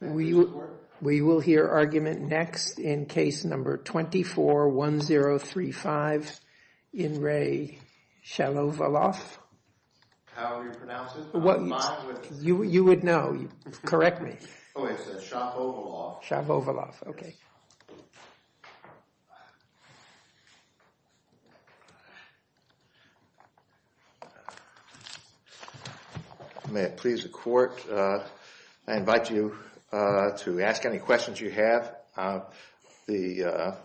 We will hear argument next in case number 24-1035 in Re Shalovaloff. How are you pronouncing it? You would know. Correct me. Oh, it's Shavovaloff. Shavovaloff, okay. May it please the court, I invite you to ask any questions you have. The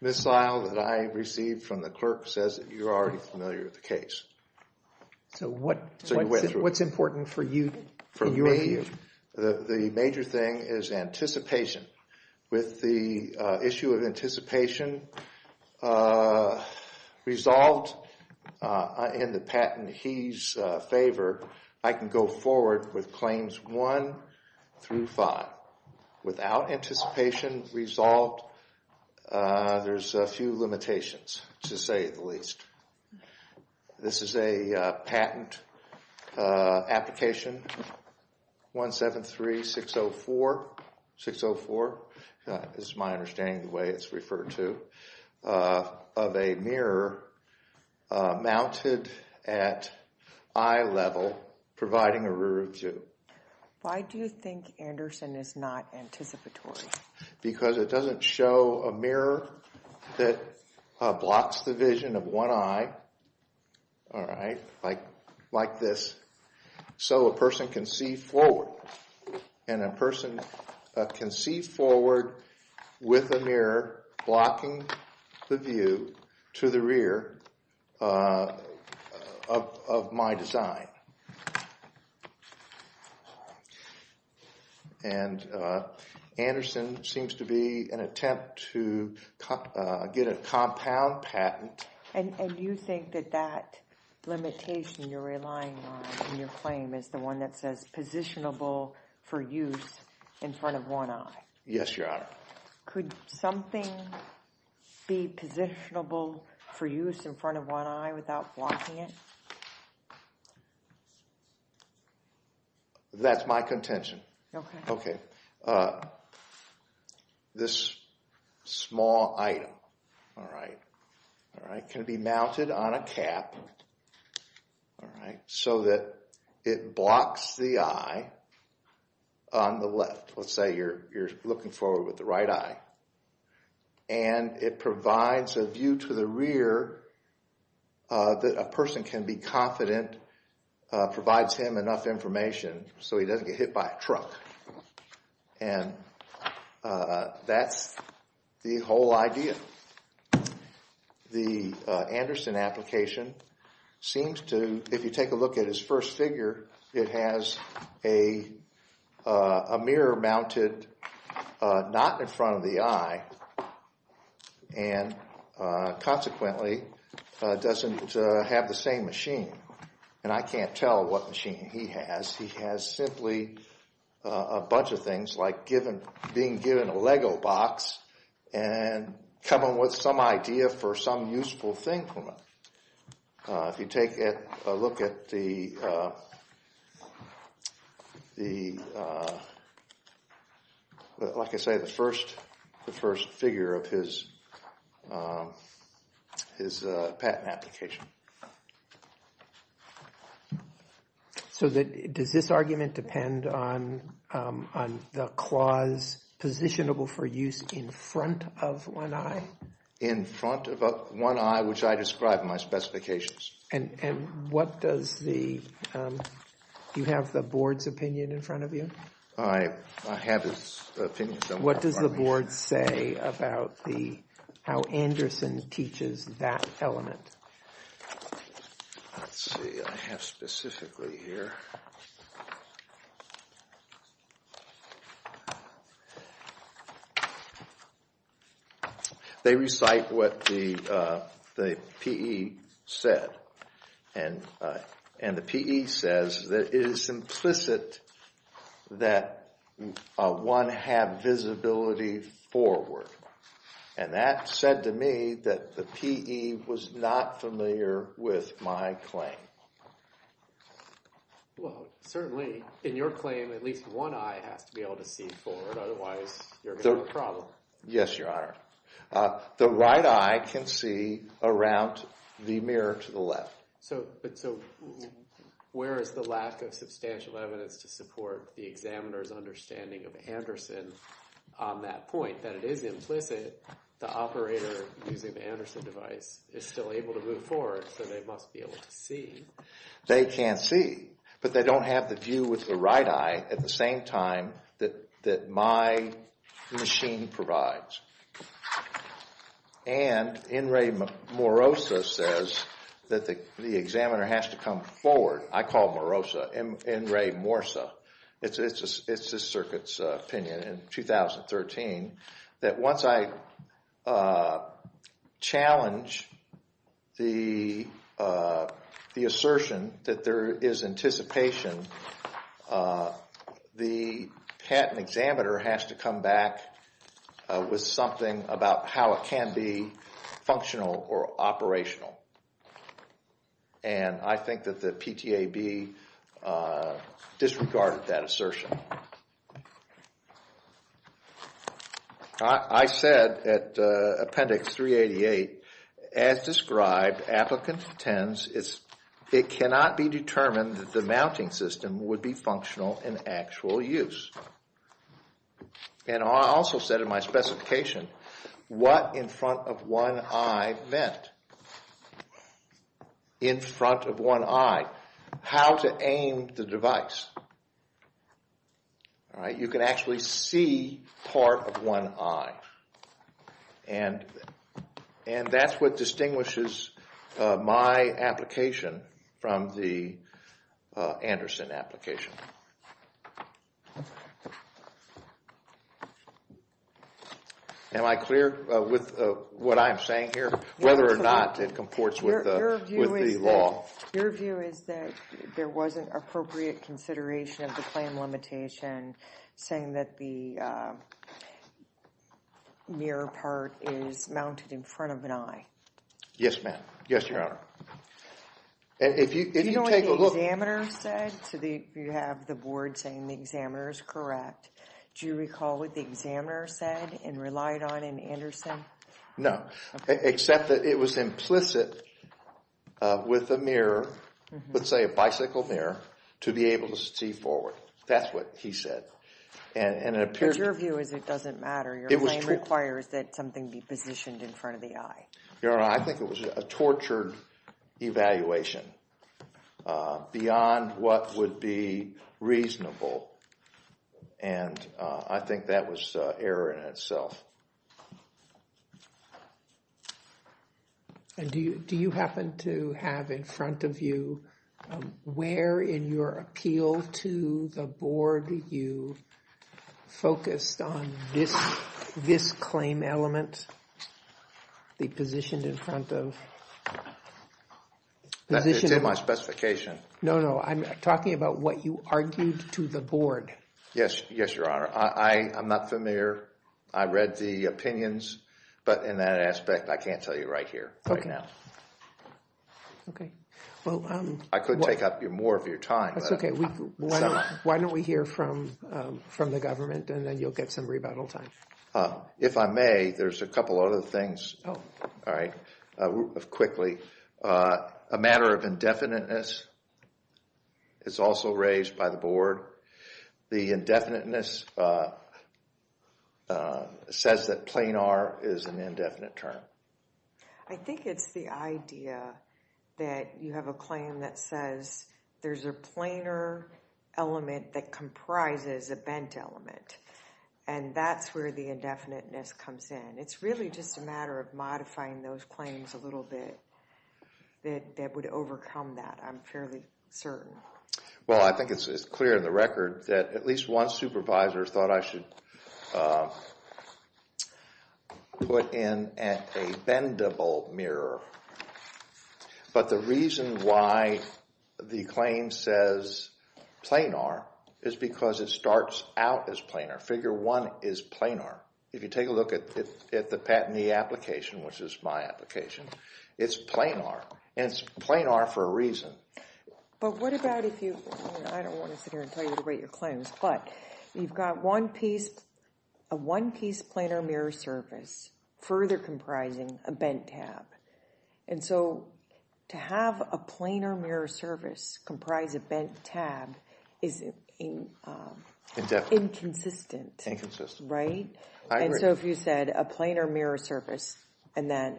missile that I received from the clerk says that you're already familiar with the case. So what's important for you? For me, the major thing is anticipation. With the issue of anticipation resolved in the patent he's in favor, I can go forward with claims one through five. Without anticipation resolved, there's a few limitations, to say the least. This is a patent application 173604. This is my understanding of the way it's referred to. Of a mirror mounted at eye level providing a rear view. Why do you think Anderson is not anticipatory? Because it doesn't show a mirror that blocks the vision of one eye. Like this. So a person can see forward. And a person can see forward with a mirror blocking the view to the rear of my design. And Anderson seems to be an attempt to get a compound patent. And you think that that limitation you're relying on in your claim is the one that says positionable for use in front of one eye? Yes, your honor. Could something be positionable for use in front of one eye without blocking it? That's my contention. This small item can be mounted on a cap so that it blocks the eye on the left. Let's say you're looking forward with the right eye. And it provides a view to the rear that a person can be confident, provides him enough information so he doesn't get hit by a truck. And that's the whole idea. The Anderson application seems to, if you take a look at his first figure, it has a mirror mounted not in front of the eye. And consequently doesn't have the same machine. And I can't tell what machine he has. He has simply a bunch of things like being given a Lego box and coming up with some idea for some useful thing from it. If you take a look at the, like I say, the first figure of his patent application. So does this argument depend on the clause positionable for use in front of one eye? In front of one eye, which I describe in my specifications. And what does the, do you have the board's opinion in front of you? I have his opinion. What does the board say about the, how Anderson teaches that element? Let's see, I have specifically here. They recite what the PE said. And the PE says that it is implicit that one have visibility forward. And that said to me that the PE was not familiar with my claim. Well, certainly in your claim, at least one eye has to be able to see forward. Otherwise, you're going to have a problem. Yes, Your Honor. The right eye can see around the mirror to the left. So where is the lack of substantial evidence to support the examiner's understanding of Anderson on that point? That it is implicit. The operator using the Anderson device is still able to move forward, so they must be able to see. They can see, but they don't have the view with the right eye at the same time that my machine provides. And N. Ray Morosa says that the examiner has to come forward. I call Morosa, N. Ray Morosa. It's this circuit's opinion in 2013 that once I challenge the assertion that there is anticipation, the patent examiner has to come back with something about how it can be functional or operational. And I think that the PTAB disregarded that assertion. I said at Appendix 388, as described, applicant intends it cannot be determined that the mounting system would be functional in actual use. And I also said in my specification, what in front of one eye meant. In front of one eye, how to aim the device. You can actually see part of one eye. And that's what distinguishes my application from the Anderson application. Am I clear with what I'm saying here? Whether or not it comports with the law? Your view is that there wasn't appropriate consideration of the claim limitation, saying that the mirror part is mounted in front of an eye. Yes, ma'am. Yes, Your Honor. Do you know what the examiner said? You have the board saying the examiner is correct. Do you recall what the examiner said and relied on in Anderson? No. Except that it was implicit with a mirror, let's say a bicycle mirror, to be able to see forward. That's what he said. But your view is it doesn't matter. Your claim requires that something be positioned in front of the eye. Your Honor, I think it was a tortured evaluation beyond what would be reasonable. And I think that was error in itself. And do you happen to have in front of you where in your appeal to the board you focused on this claim element, be positioned in front of? It's in my specification. No, no. I'm talking about what you argued to the board. Yes, Your Honor. I'm not familiar. I read the opinions. But in that aspect, I can't tell you right here right now. I could take up more of your time. That's okay. Why don't we hear from the government and then you'll get some rebuttal time. If I may, there's a couple other things. All right. Quickly. A matter of indefiniteness is also raised by the board. The indefiniteness says that planar is an indefinite term. I think it's the idea that you have a claim that says there's a planar element that comprises a bent element. And that's where the indefiniteness comes in. It's really just a matter of modifying those claims a little bit that would overcome that. I'm fairly certain. Well, I think it's clear in the record that at least one supervisor thought I should put in a bendable mirror. But the reason why the claim says planar is because it starts out as planar. Figure one is planar. If you take a look at the patentee application, which is my application, it's planar. And it's planar for a reason. But what about if you—I don't want to sit here and tell you to write your claims. But you've got a one-piece planar mirror service further comprising a bent tab. And so to have a planar mirror service comprise a bent tab is inconsistent. Inconsistent. Right? I agree. And so if you said a planar mirror service and then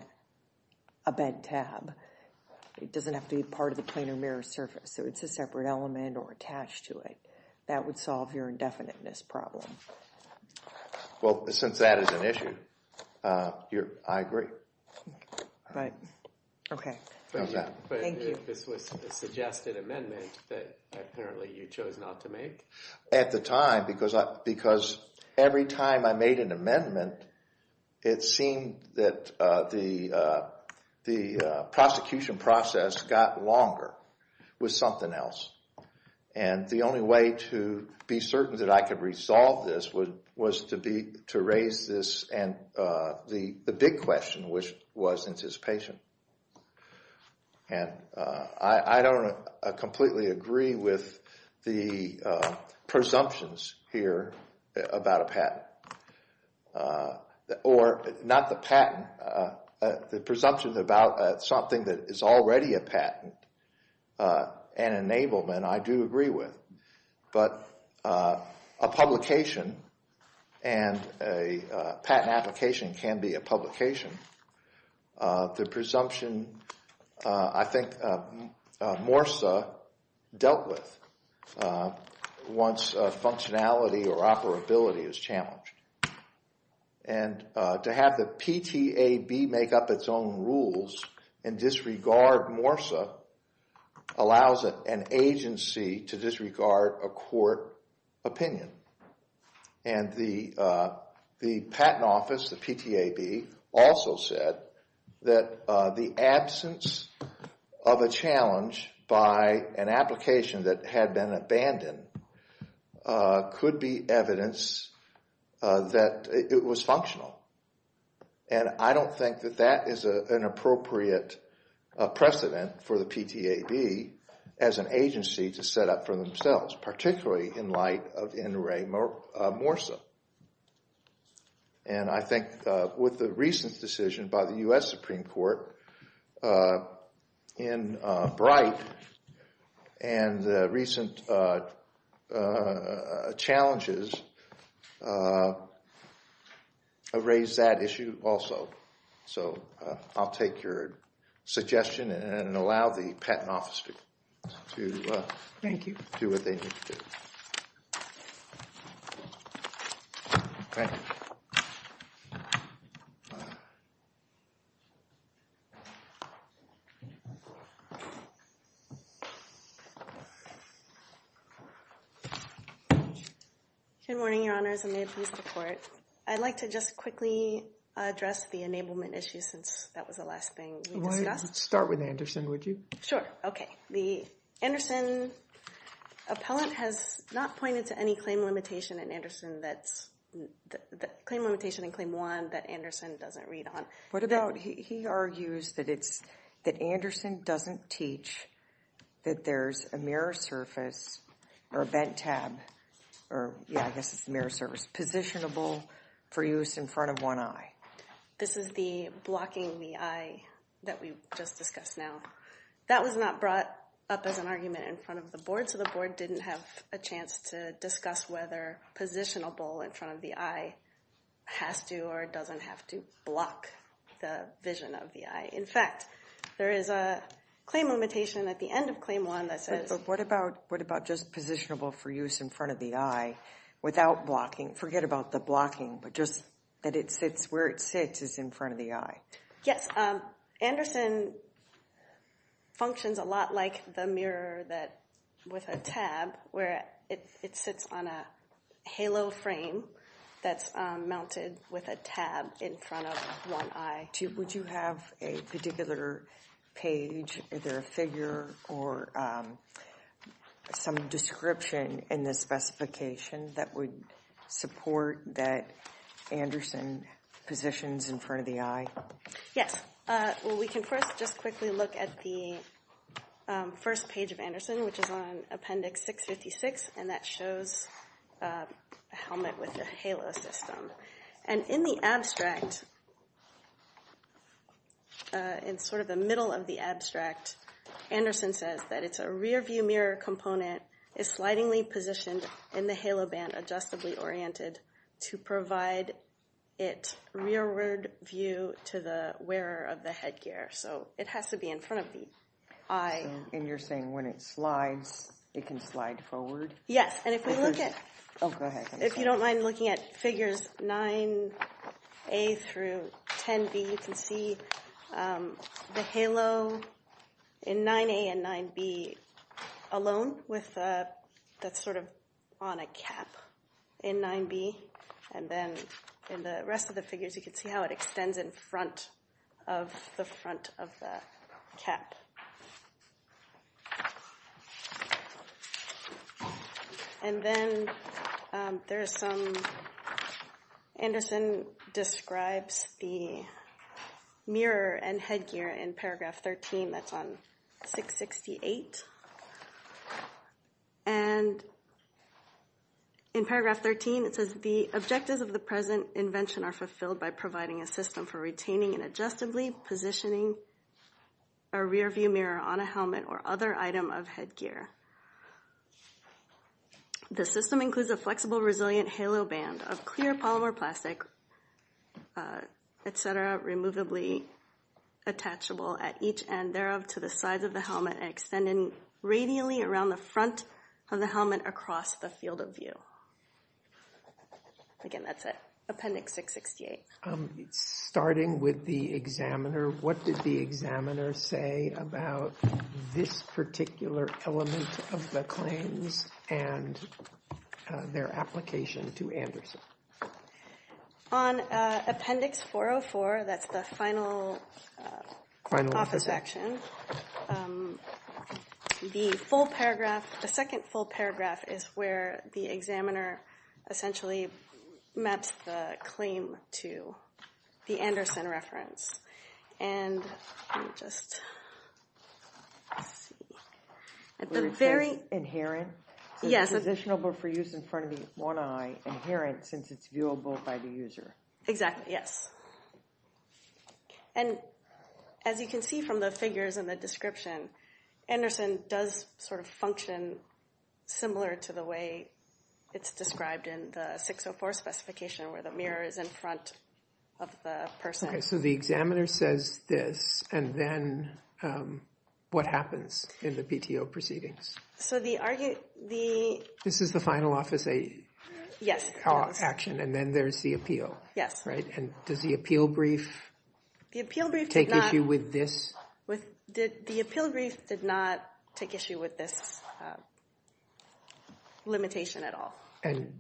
a bent tab, it doesn't have to be part of the planar mirror service. So it's a separate element or attached to it. That would solve your indefiniteness problem. Well, since that is an issue, I agree. Right. Okay. Thank you. But if this was a suggested amendment that apparently you chose not to make? At the time, because every time I made an amendment, it seemed that the prosecution process got longer with something else. And the only way to be certain that I could resolve this was to raise this and the big question, which was anticipation. And I don't completely agree with the presumptions here about a patent. Or not the patent, the presumptions about something that is already a patent, an enablement, I do agree with. But a publication and a patent application can be a publication. The presumption, I think, MORSA dealt with once functionality or operability is challenged. And to have the PTAB make up its own rules and disregard MORSA allows an agency to disregard a court opinion. And the patent office, the PTAB, also said that the absence of a challenge by an application that had been abandoned could be evidence that it was functional. And I don't think that that is an appropriate precedent for the PTAB as an agency to set up for themselves, particularly in light of NRA MORSA. And I think with the recent decision by the U.S. Supreme Court in Bright and the recent challenges have raised that issue also. So I'll take your suggestion and allow the patent office to do what they need to do. Okay. Good morning, Your Honors, and may it please the Court. I'd like to just quickly address the enablement issue since that was the last thing we discussed. Why don't you start with Anderson, would you? Sure. Okay. The Anderson appellant has not pointed to any claim limitation in Anderson that's – claim limitation in Claim 1 that Anderson doesn't read on. What about – he argues that it's – that Anderson doesn't teach that there's a mirror surface or a bent tab, or yeah, I guess it's the mirror surface, positionable for use in front of one eye. This is the blocking the eye that we just discussed now. That was not brought up as an argument in front of the Board, so the Board didn't have a chance to discuss whether positionable in front of the eye has to or doesn't have to block the vision of the eye. In fact, there is a claim limitation at the end of Claim 1 that says – So what about just positionable for use in front of the eye without blocking? Forget about the blocking, but just that it sits – where it sits is in front of the eye. Yes. Anderson functions a lot like the mirror that – with a tab where it sits on a halo frame that's mounted with a tab in front of one eye. Would you have a particular page, either a figure or some description in the specification that would support that Anderson positions in front of the eye? Yes. Well, we can first just quickly look at the first page of Anderson, which is on Appendix 656, and that shows a helmet with a halo system. And in the abstract, in sort of the middle of the abstract, Anderson says that it's a rear-view mirror component, is slidingly positioned in the halo band, adjustably oriented to provide it rearward view to the wearer of the headgear. So it has to be in front of the eye. And you're saying when it slides, it can slide forward? Yes. Oh, go ahead. If you don't mind looking at figures 9A through 10B, you can see the halo in 9A and 9B alone with – that's sort of on a cap in 9B. And then in the rest of the figures, you can see how it extends in front of the front of the cap. And then there is some – Anderson describes the mirror and headgear in paragraph 13. That's on 668. And in paragraph 13, it says the objectives of the present invention are fulfilled by providing a system for retaining and adjustably positioning a rear-view mirror on a helmet or other item of headgear. The system includes a flexible, resilient halo band of clear polymer plastic, et cetera, removably attachable at each end thereof to the sides of the helmet and extending radially around the front of the helmet across the field of view. Again, that's it. Appendix 668. Starting with the examiner, what did the examiner say about this particular element of the claims and their application to Anderson? On Appendix 404, that's the final office section, the full paragraph – the second full paragraph is where the examiner essentially maps the claim to the Anderson reference. And let me just see. At the very – Inherent? Yes. Positionable for use in front of the one eye, inherent since it's viewable by the user. Exactly, yes. And as you can see from the figures and the description, Anderson does sort of function similar to the way it's described in the 604 specification where the mirror is in front of the person. Okay, so the examiner says this, and then what happens in the PTO proceedings? So the – This is the final office action, and then there's the appeal, right? And does the appeal brief take issue with this? The appeal brief did not take issue with this limitation at all. And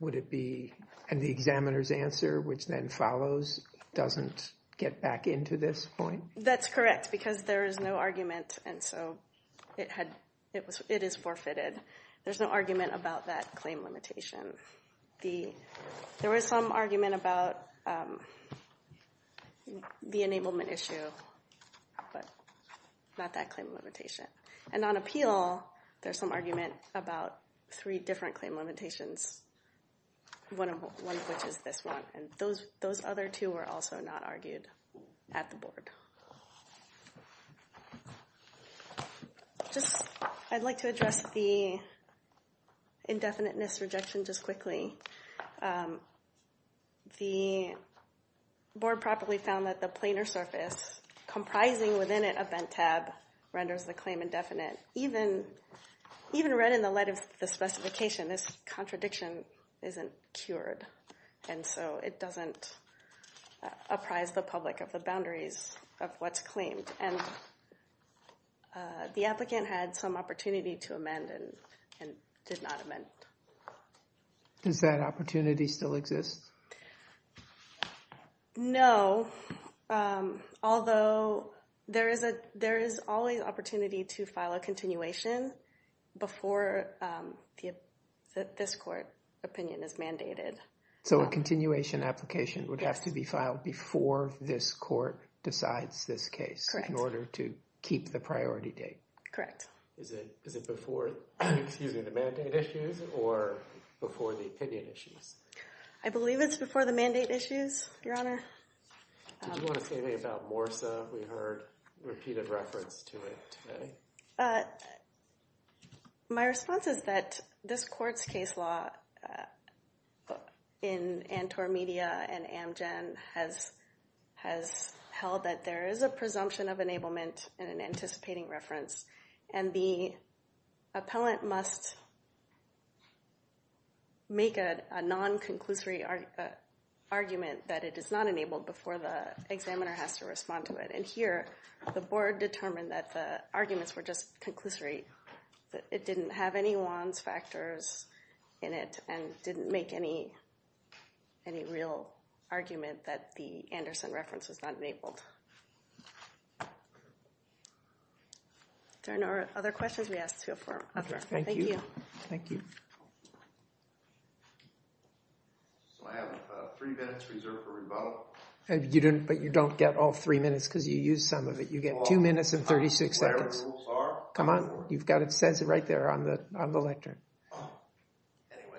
would it be – and the examiner's answer, which then follows, doesn't get back into this point? That's correct, because there is no argument, and so it is forfeited. There's no argument about that claim limitation. There was some argument about the enablement issue, but not that claim limitation. And on appeal, there's some argument about three different claim limitations, one of which is this one, and those other two were also not argued at the board. Just – I'd like to address the indefiniteness rejection just quickly. The board properly found that the planar surface comprising within it a bent tab renders the claim indefinite. Even read in the light of the specification, this contradiction isn't cured, and so it doesn't apprise the public of the boundaries of what's claimed. And the applicant had some opportunity to amend and did not amend. Does that opportunity still exist? No, although there is always opportunity to file a continuation before this court opinion is mandated. So a continuation application would have to be filed before this court decides this case in order to keep the priority date? Correct. Is it before the mandate issues or before the opinion issues? I believe it's before the mandate issues, Your Honor. Did you want to say anything about MORSA? We heard repeated reference to it today. My response is that this court's case law in Antwerp Media and Amgen has held that there is a presumption of enablement and an anticipating reference, and the appellant must make a non-conclusory argument that it is not enabled before the examiner has to respond to it. And here, the board determined that the arguments were just conclusory, that it didn't have any Wands factors in it, and didn't make any real argument that the Anderson reference was not enabled. Are there no other questions we asked before? Thank you. So I have three minutes reserved for rebuttal. But you don't get all three minutes because you used some of it. You get two minutes and 36 seconds. Come on, it says it right there on the lectern. Anyway,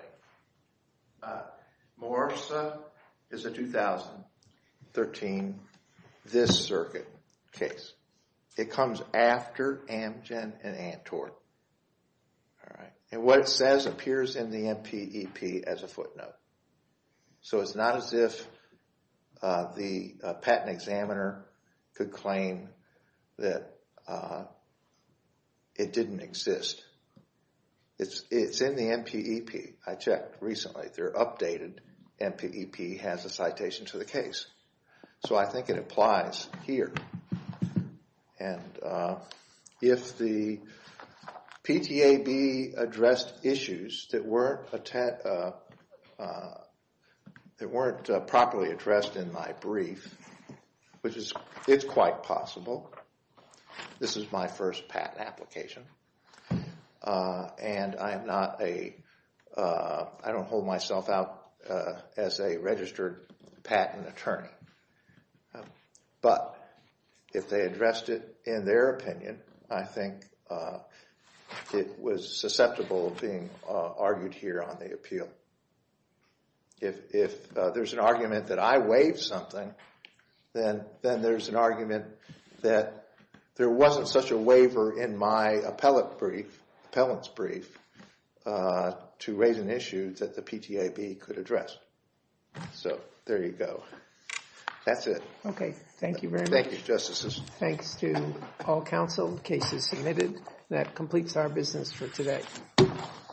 MORSA is a 2013 This Circuit case. It comes after Amgen and Antwerp. And what it says appears in the MPEP as a footnote. So it's not as if the patent examiner could claim that it didn't exist. It's in the MPEP. I checked recently. They're updated. MPEP has a citation to the case. So I think it applies here. And if the PTAB addressed issues that weren't properly addressed in my brief, which is quite possible. This is my first patent application, and I don't hold myself out as a registered patent attorney. But if they addressed it in their opinion, I think it was susceptible of being argued here on the appeal. If there's an argument that I waived something, then there's an argument that there wasn't such a waiver in my appellant's brief to raise an issue that the PTAB could address. So there you go. That's it. Okay. Thank you very much. Thank you, Justice. Thanks to all counsel. Case is submitted. That completes our business for today.